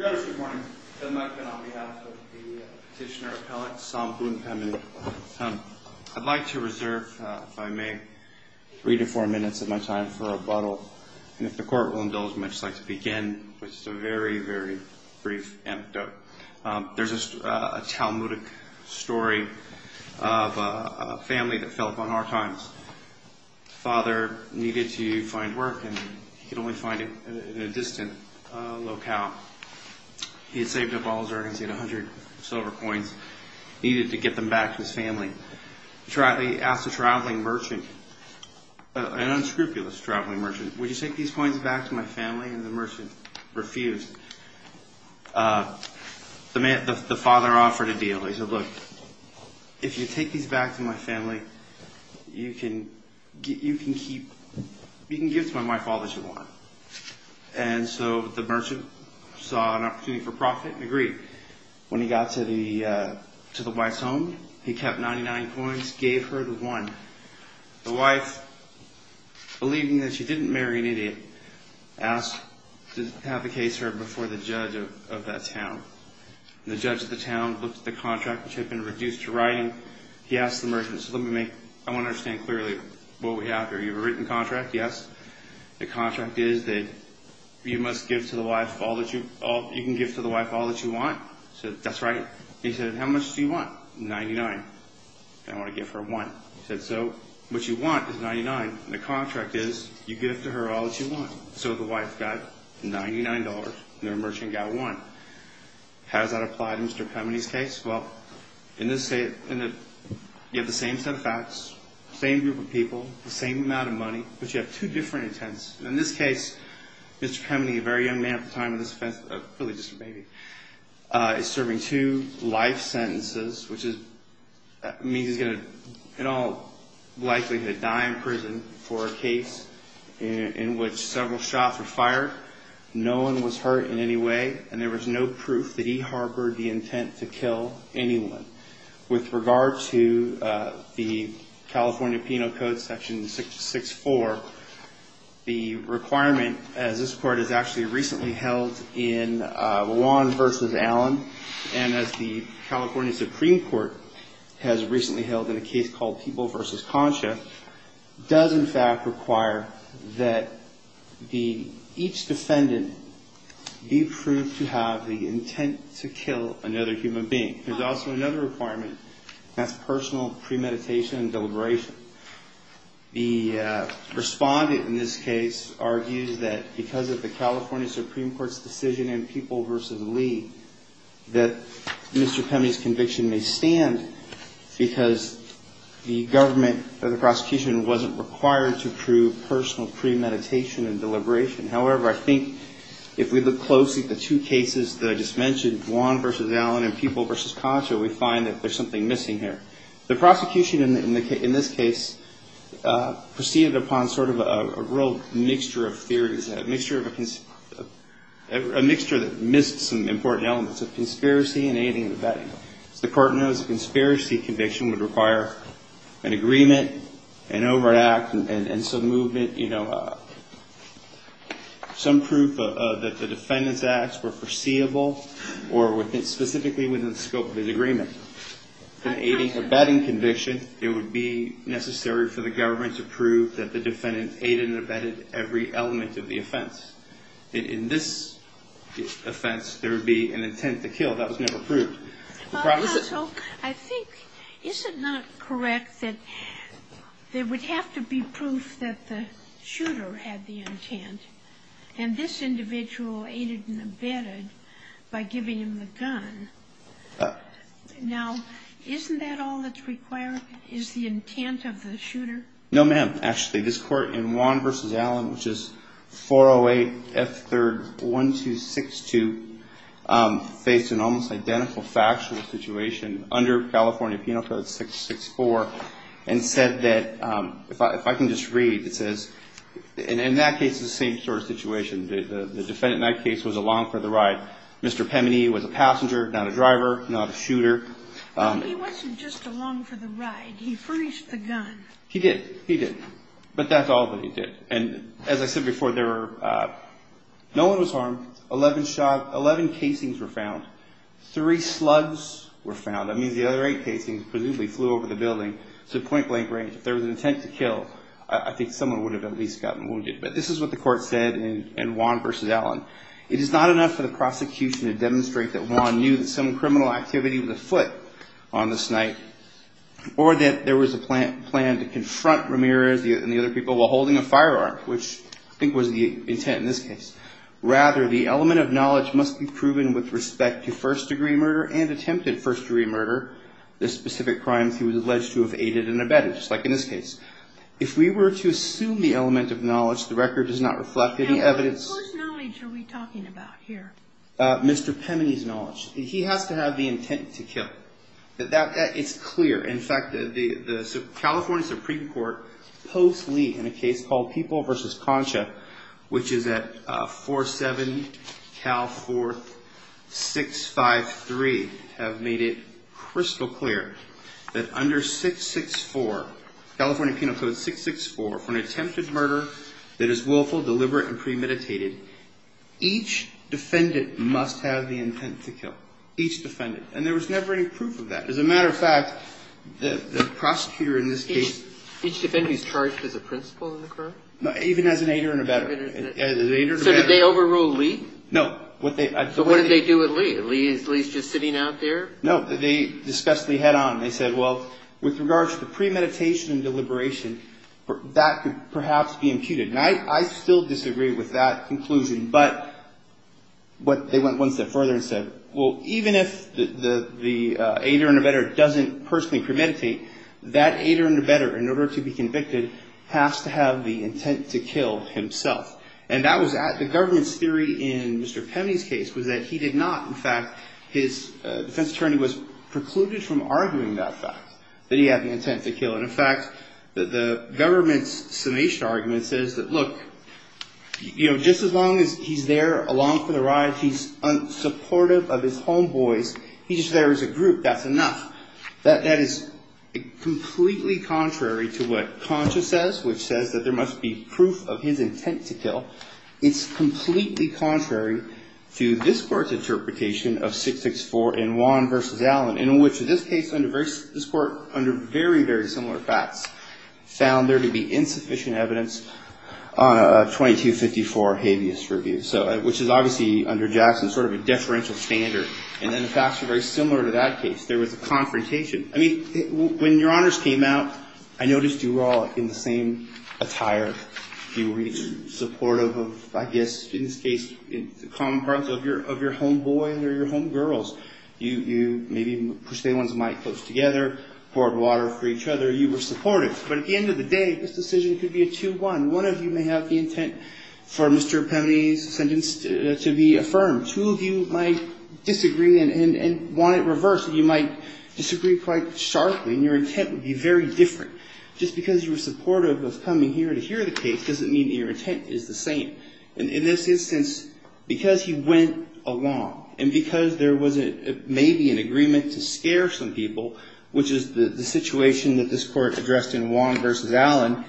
I'd like to reserve, if I may, three to four minutes of my time for rebuttal, and if the court will indulge me, I'd just like to begin with just a very, very brief anecdote. There's a Talmudic story of a family that fell upon hard times. Father needed to find work, and he could only find it in a distant locale. He had saved up all his earnings, he had 100 silver coins, needed to get them back to his family. He asked a traveling merchant, an unscrupulous traveling merchant, would you take these coins back to my family, and the merchant refused. The father offered a deal. He said, look, if you take these back to my family, you can give to my wife all that you want. And so the merchant saw an opportunity for profit and agreed. When he got to the wife's home, he kept 99 coins, gave her the one. The wife, believing that she didn't marry an idiot, asked to have the case heard before the judge of that town. The judge of the town looked at the contract, which had been reduced to writing. He asked the merchant, I want to understand clearly what we have here. You have a written contract, yes? The contract is that you can give to the wife all that you want? He said, that's right. He said, how much do you want? 99. I want to give her one. He said, so what you want is 99, and the contract is you give to her all that you want. So the wife got $99, and the merchant got one. How does that apply to Mr. Pemeny's case? Well, in this case, you have the same set of facts, same group of people, the same amount of money, but you have two different intents. In this case, Mr. Pemeny, a very young man at the time of this offense, probably just a baby, is serving two life sentences, which means he's going to, in all likelihood, die in prison for a case in which several shots were fired, no one was hurt in any way, and there was no proof that he harbored the intent to kill anyone. With regard to the California Penal Code section 664, the requirement, as this court has actually recently held in Juan v. Allen, and as the California Supreme Court has recently held in a case called Peeble v. Concha, does in fact require that each defendant be proved to have the intent to kill another human being. There's also another requirement, and that's personal premeditation and deliberation. The respondent in this case argues that because of the California Supreme Court's decision in Peeble v. Lee, that Mr. Pemeny's conviction may stand because the government or the prosecution wasn't required to prove personal premeditation and deliberation. However, I think if we look closely at the two cases that I just mentioned, Juan v. Allen and Peeble v. Concha, we find that there's something missing here. The prosecution in this case proceeded upon sort of a real mixture of theories, a mixture that missed some important elements of conspiracy and aiding and abetting. As the court knows, a conspiracy conviction would require an agreement, an overt act, and some movement, you know, some proof that the defendant's acts were foreseeable or specifically within the scope of his agreement. If it's an aiding and abetting conviction, it would be necessary for the government to prove that the defendant aided and abetted every element of the offense. In this offense, there would be an intent to kill. That was never proved. The problem is that the attorney in Peeble v. Allen's case is that there was no evidence to prove that the shooter had the intent. And this individual aided and abetted by giving him the gun. Now, isn't that all that's required is the intent of the shooter? No, ma'am. Actually, this court in Juan v. Allen, which is 408 F. 3rd. 1262, faced an almost identical factual situation under California Penal Code 664 and said that, if I can just read, it says, and in that case, the same sort of situation, the defendant in that case was along for the ride. Mr. Pemeni was a passenger, not a driver, not a shooter. He wasn't just along for the ride. He furnished the gun. He did. He did. But that's all that he did. And as I said before, no one was harmed. Eleven casings were found. Three slugs were found. That means the other eight casings presumably flew over the building to point blank range. If there was an intent to kill, I think someone would have at least gotten wounded. But this is what the court said in Juan v. Allen. It is not enough for the prosecution to demonstrate that Juan knew that some criminal activity was afoot on this night or that there was a plan to confront Ramirez and the other people while holding a firearm, which I think was the intent in this case. Rather, the element of knowledge must be proven with respect to first-degree murder and attempted first-degree murder, the specific crimes he was involved in. The record does not reflect any evidence. Mr. Pemeni's knowledge. He has to have the intent to kill. It's clear. In fact, California Supreme Court, post Lee, in a case called People v. Concha, which is at 47 Cal 4653, made it crystal clear that under 664, California Penal Code 664, for an attempted murder that is willful, deliberate, and premeditated, each defendant must have the intent to kill. Each defendant. And there was never any proof of that. As a matter of fact, the prosecutor in this case Each defendant is charged as a principal in the crime? Even as an aider and abetter. So did they overrule Lee? No. So what did they do with Lee? Is Lee just sitting out there? No. They discussed Lee head-on. They said, well, with regards to premeditation and deliberation, that could perhaps be imputed. And I still disagree with that conclusion. But they went one step further and said, well, even if the aider and abetter doesn't personally premeditate, that aider and abetter, in order to be convicted, has to have the intent to kill himself. And the government's theory in Mr. Pemney's case was that he did not. In fact, his defense attorney was precluded from arguing that fact, that he had an intent to kill. And in fact, the government's summation argument says that, look, just as long as he's there along for the ride, he's unsupportive of his homeboys, he's there as a group. That's enough. That is completely contrary to what Concha says, which says that there must be proof of his intent to kill. It's completely contrary to this Court's interpretation of 664 in Juan v. Allen, in which in this case, this Court, under very, very similar facts, found there to be insufficient evidence on a 2254 habeas review, which is obviously, under Jackson, sort of a deferential standard. And then the facts are very similar to that case. There was a confrontation. I mean, when your honors came out, I noticed you were all in the same attire. You were supportive of, I guess, in this case, the common parts of your homeboys or your homegirls. You maybe pushed the end ones of my clothes together, poured water for each other. You were supportive. But at the end of the day, this decision could be a 2-1. One of you may have the intent for Mr. Pemeny's sentence to be affirmed. Two of you might disagree and want it reversed. You might disagree quite sharply, and your intent would be very different. Just because you were supportive of coming here to hear the case doesn't mean that your intent is the same. And in this instance, because he went along, and because there was maybe an agreement to scare some people, which is the situation that this Court addressed in Juan v. Allen,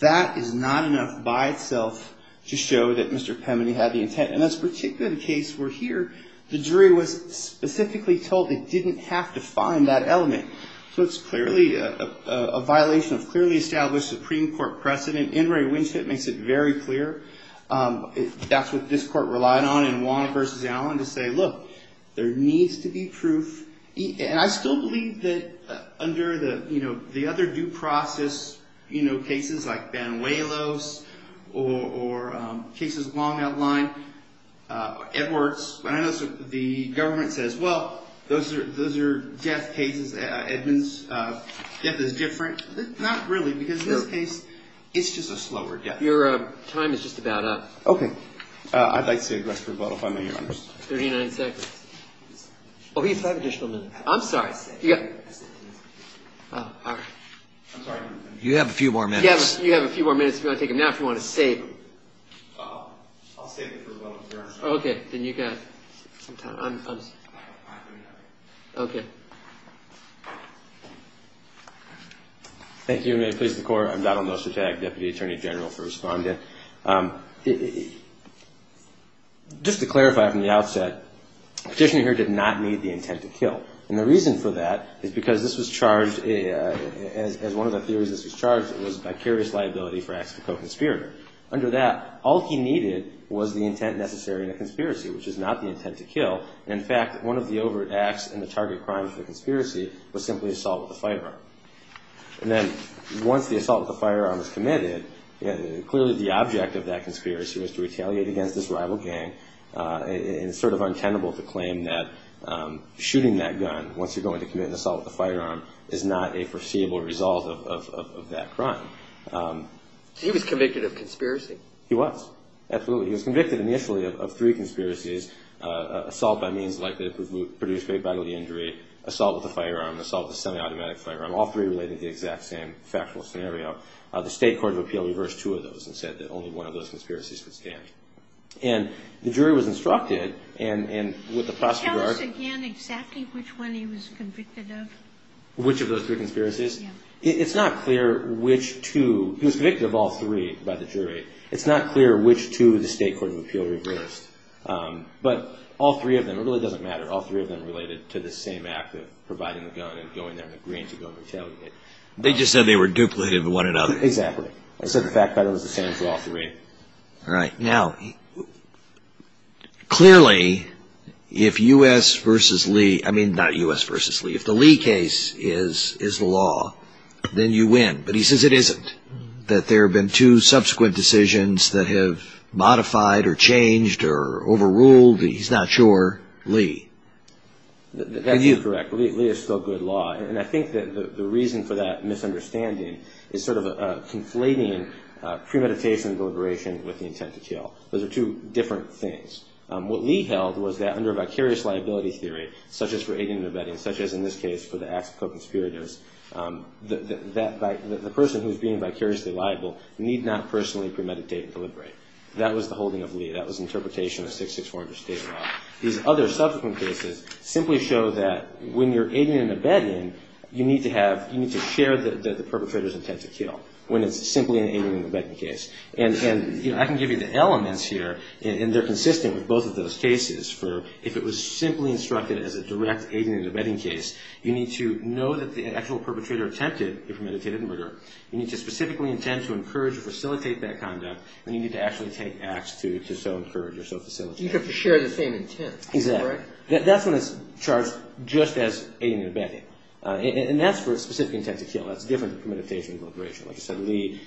that is not enough by itself to show that Mr. Pemeny had the intent. And that's particularly the case where here, the jury was specifically told they didn't have to find that element. So it's clearly a violation of clearly established Supreme Court precedent. N. Ray Winchette makes it very clear. That's what this Court relied on in Juan v. Allen, to say, look, there needs to be proof. And I still believe that under the other due process cases like Banuelos or cases along that line, Edwards, when I notice the government says, well, those are death cases, Edmonds, death is different. Not really, because in this case, it's just a slower death. Your time is just about up. Okay. I'd like to see a request for a vote if I may, Your Honors. Thirty-nine seconds. Oh, he has five additional minutes. I'm sorry. Oh, all right. I'm sorry. You have a few more minutes. You have a few more minutes if you want to take them. Now, if you want to save them. I'll save them for a vote, Your Honor. Okay. Then you got some time. Okay. Thank you. May it please the Court. I'm Donald Nostratak, Deputy Attorney General for Respondent. Just to clarify from the outset, Petitioner here did not need the intent to kill. And the reason for that is because this was charged, as one of the theories this was charged, it was vicarious liability for acts of co-conspirator. Under that, all he needed was the intent necessary in a conspiracy, which is not the intent to kill. In fact, one of the overt acts and the target crimes of the conspiracy was simply assault with a firearm. And then once the assault with a firearm was committed, clearly the object of that conspiracy was to retaliate against this rival gang. And it's sort of untenable to claim that shooting that gun once you're going to commit an assault with a firearm is not a foreseeable result of that crime. So he was convicted of conspiracy? He was. Absolutely. He was convicted initially of three conspiracies, assault by means likely to produce great bodily injury, assault with a firearm, assault with a semi-automatic firearm, all three relating to the exact same factual scenario. The State Court of Appeal reversed two of those and said that only one of those conspiracies would stand. And the jury was instructed, and with the prosecutor- Can you tell us again exactly which one he was convicted of? Which of those three conspiracies? It's not clear which two. He was convicted of all three by the jury. It's not clear which two the State Court of Appeal reversed. But all three of them, it really doesn't matter, all three of them related to the same act of providing the gun and going there and agreeing to go and retailing it. They just said they were duplicative of one another. Exactly. I said the fact pattern was the same for all three. All right. Now, clearly, if U.S. versus Lee- I mean, not U.S. versus Lee. If the Lee case is the law, then you win. But he says it isn't. That there have been two subsequent decisions that have modified or changed or overruled. He's not sure. Lee? That's incorrect. Lee is still good law. And I think that the reason for that misunderstanding is sort of a conflating premeditation and deliberation with the intent to kill. Those are two different things. What Lee held was that under vicarious liability theory, such as for aiding and abetting, such as in this case for the acts of co-conspirators, that the person who's being vicariously liable need not personally premeditate and deliberate. That was the holding of Lee. That was interpretation of 6600 State law. These other subsequent cases simply show that when you're aiding and abetting, you need to have- you need to share the perpetrator's intent to kill when it's simply an aiding and abetting case. And I can give you the elements here. And they're consistent with both of those cases. For if it was simply instructed as a direct aiding and abetting case, you need to know that the actual perpetrator attempted a premeditated murder. You need to specifically intend to encourage or facilitate that conduct. And you need to actually take acts to so encourage or so facilitate. You have to share the same intent. Exactly. That's when it's charged just as aiding and abetting. And that's for a specific intent to kill. That's different than premeditation and deliberation. Like I said, Lee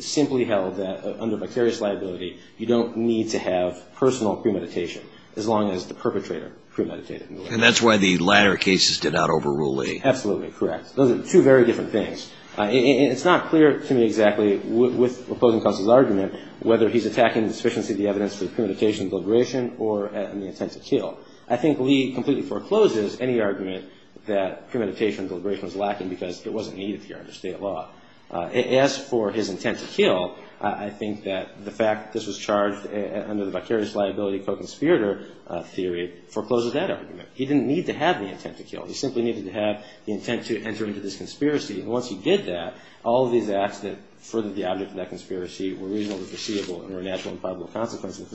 simply held that under vicarious liability, you don't need to have personal premeditation as long as the perpetrator premeditated. And that's why the latter cases did not overrule Lee. Absolutely correct. Those are two very different things. It's not clear to me exactly with opposing counsel's argument whether he's attacking the sufficiency of the evidence for the premeditation and deliberation or the intent to kill. I think Lee completely forecloses any argument that premeditation and deliberation was lacking because it wasn't needed here under state law. As for his intent to kill, I think that the fact this was charged under the vicarious liability co-conspirator theory forecloses that argument. He didn't need to have the intent to kill. He simply needed to have the intent to enter into this conspiracy. And once he did that, all of these acts that furthered the object of that conspiracy were reasonably foreseeable and were a natural and probable consequence of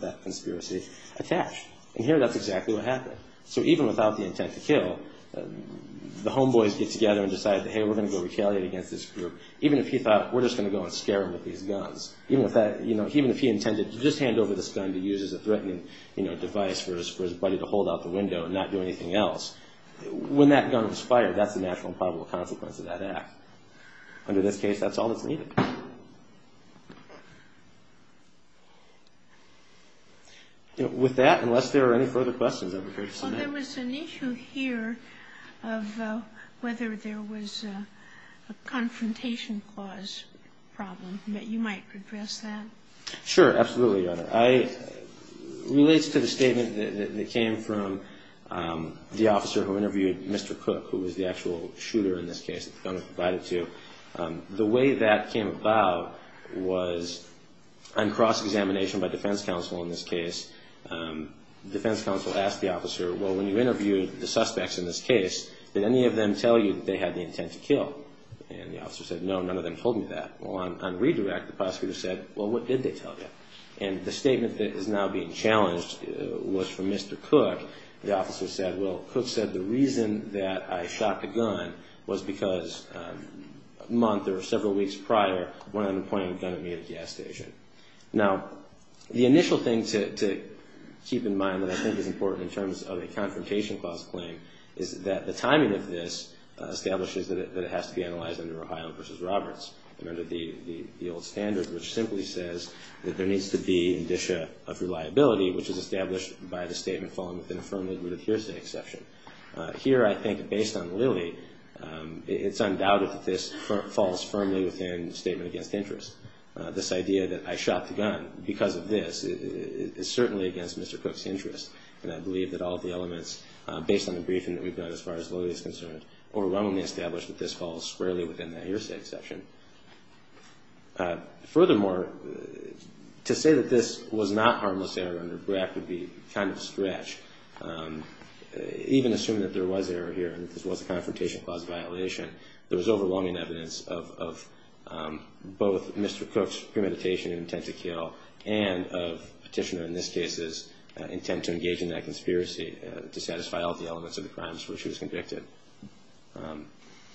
that conspiracy attached. And here, that's exactly what happened. So even without the intent to kill, the homeboys get together and decide that, hey, we're going to go retaliate against this group. Even if he thought we're just going to go and scare him with these guns, even if he intended to just hand over this gun to use as a threatening device for his buddy to hold out the window and not do anything else, when that gun was fired, that's the natural and probable consequence of that act. Under this case, that's all that's needed. With that, unless there are any further questions, I'm prepared to submit. Well, there was an issue here of whether there was a confrontation clause problem, that you might address that. Sure, absolutely, Your Honor. It relates to the statement that came from the officer who interviewed Mr. Cook, who was the actual shooter in this case that the gunner provided to. The way that came about was on cross-examination by defense counsel in this case. Defense counsel asked the officer, well, when you interviewed the suspects in this case, did any of them tell you that they had the intent to kill? And the officer said, no, none of them told me that. Well, on redirect, the prosecutor said, well, what did they tell you? And the statement that is now being challenged was from Mr. Cook. The officer said, well, Cook said the reason that I shot the gun was because a month or several weeks prior, when I'm pointing a gun at me at a gas station. Now, the initial thing to keep in mind that I think is important in terms of a confrontation clause claim is that the timing of this establishes that it has to be analyzed under Ohio v. Roberts and under the old standard, which simply says that there needs to be indicia of reliability, which is established by the statement following with an affirmative with hearsay exception. Here, I think based on Lilly, it's undoubted that this falls firmly within the statement against interest. This idea that I shot the gun because of this is certainly against Mr. Cook's interest. And I believe that all of the elements based on the briefing that we've done as far as Lilly is concerned overwhelmingly established that this falls squarely within that hearsay exception. Furthermore, to say that this was not harmless error under BRAC would be kind of a stretch. Even assuming that there was error here and this was a confrontation clause violation, there was overwhelming evidence of both Mr. Cook's premeditation and intent to kill and of Petitioner in this case's intent to engage in that conspiracy to satisfy all the elements of the crimes where she was convicted.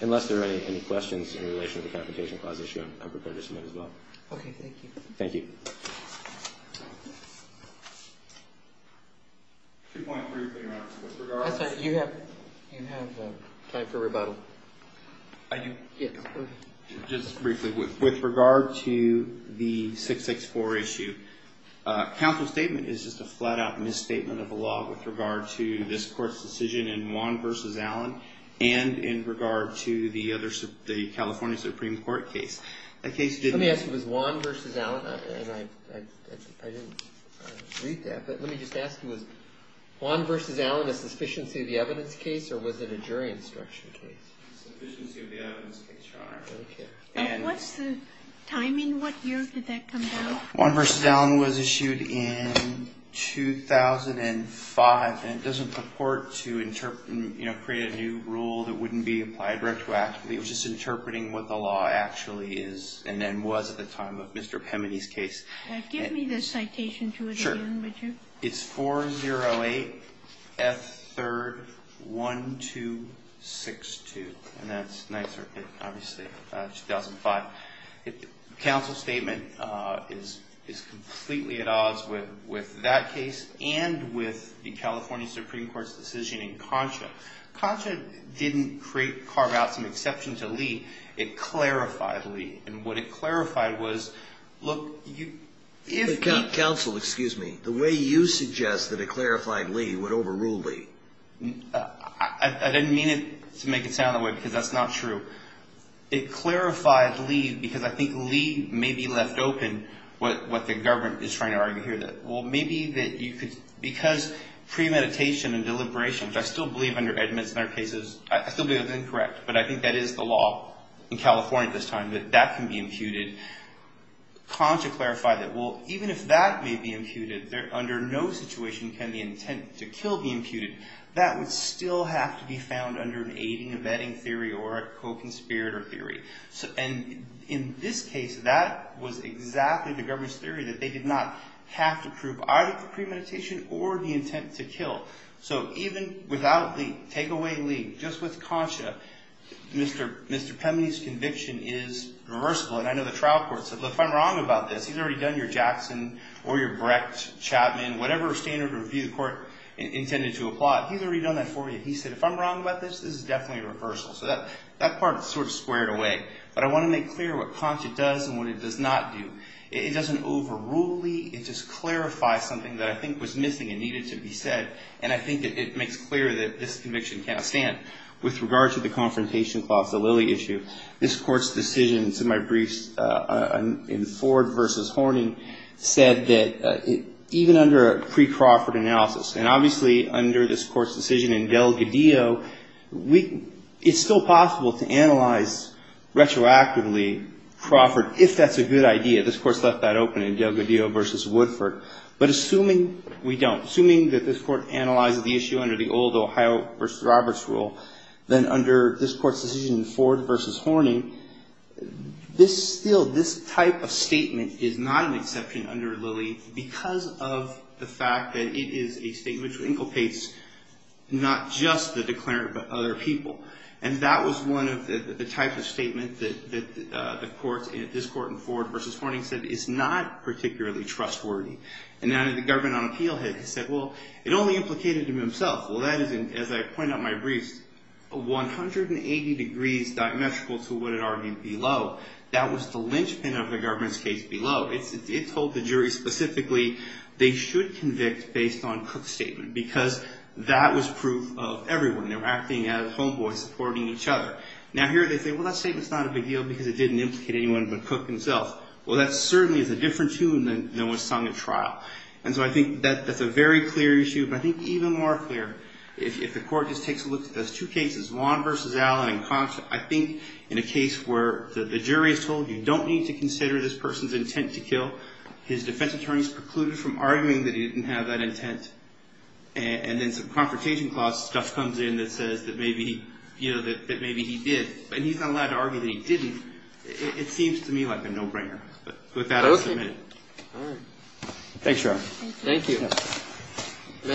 Unless there are any questions in relation to the confrontation clause issue, I'm prepared to submit as well. Okay, thank you. Thank you. I'm sorry, you have time for rebuttal. I do? Yes. Just briefly, with regard to the 664 issue, counsel's statement is just a flat-out misstatement of the law with regard to this court's decision in Juan v. Allen and in regard to the California Supreme Court case. The case didn't- Let me ask you, was Juan v. Allen a sufficiency of the evidence case or was it a jury instruction case? A sufficiency of the evidence case, Your Honor. Okay. What's the timing? What year did that come down? Juan v. Allen was issued in 2005 and it doesn't purport to create a new rule that wouldn't be applied retroactively. It was just interpreting what the law actually is and then was at the time of Mr. Pemeny's case. Give me the citation to it again, would you? Sure. It's 408F3-1262, and that's 9th Circuit, obviously, 2005. Counsel's statement is completely at odds with that case and with the California Supreme Court's decision in Concha. Concha didn't carve out some exception to Lee. It clarified Lee. And what it clarified was, look, you- Counsel, excuse me. The way you suggest that it clarified Lee would overrule Lee. I didn't mean it to make it sound that way because that's not true. It clarified Lee because I think Lee may be left open with what the government is trying to argue here. Well, maybe that you could- Because premeditation and deliberation, which I still believe under Edmonds in our cases, I still believe that's incorrect, but I think that is the law in California at this time, that that can be imputed. Concha clarified that, well, even if that may be imputed, under no situation can the intent to kill be imputed. That would still have to be found under an aiding and abetting theory or a co-conspirator theory. And in this case, that was exactly the government's theory that they did not have to prove either the premeditation or the intent to kill. So even without Lee, take away Lee, just with Concha, Mr. Pemney's conviction is reversible. And I know the trial court said, well, if I'm wrong about this, he's already done your Jackson or your Brecht, Chapman, whatever standard review court intended to apply. He's already done that for you. He said, if I'm wrong about this, this is definitely a reversal. So that part is sort of squared away. But I want to make clear what Concha does and what it does not do. It doesn't overrule Lee. It just clarifies something that I think was missing and needed to be said. And I think it makes clear that this conviction cannot stand. With regard to the confrontation clause, the Lilly issue, this Court's decision to my briefs in Ford v. Horning said that even under a pre-Crawford analysis, and obviously under this Court's decision in Delgadillo, it's still possible to analyze retroactively Crawford if that's a good idea. This Court's left that open in Delgadillo v. Woodford. But assuming we don't, assuming that this Court analyzes the issue under the old Ohio v. Roberts rule, then under this Court's decision in Ford v. Horning, this still, this type of statement is not an exception under Lilly because of the fact that it is a statement which inculcates not just the declarant, but other people. And that was one of the types of statements that this Court in Ford v. Horning said is not particularly trustworthy. And now that the government on appeal has said, well, it only implicated him himself. Well, that is, as I point out in my briefs, 180 degrees diametrical to what it argued below. That was the linchpin of the government's case below. It told the jury specifically, they should convict based on Cook's statement because that was proof of everyone. They were acting as homeboys supporting each other. Now here they say, well, that statement's not a big deal because it didn't implicate anyone but Cook himself. Well, that certainly is a different tune than what was sung at trial. And so I think that's a very clear issue. But I think even more clear, if the Court just takes a look at those two cases, Lawn v. Allen and Confort, I think in a case where the jury is told, you don't need to consider this person's intent to kill. His defense attorneys precluded from arguing that he didn't have that intent. And then some Confrontation Clause stuff comes in that says that maybe he did. And he's not allowed to argue that he didn't. It seems to me like a no-brainer. But with that, I submit. Okay. All right. Thanks, Sheriff. Thank you. The matter will be submitted.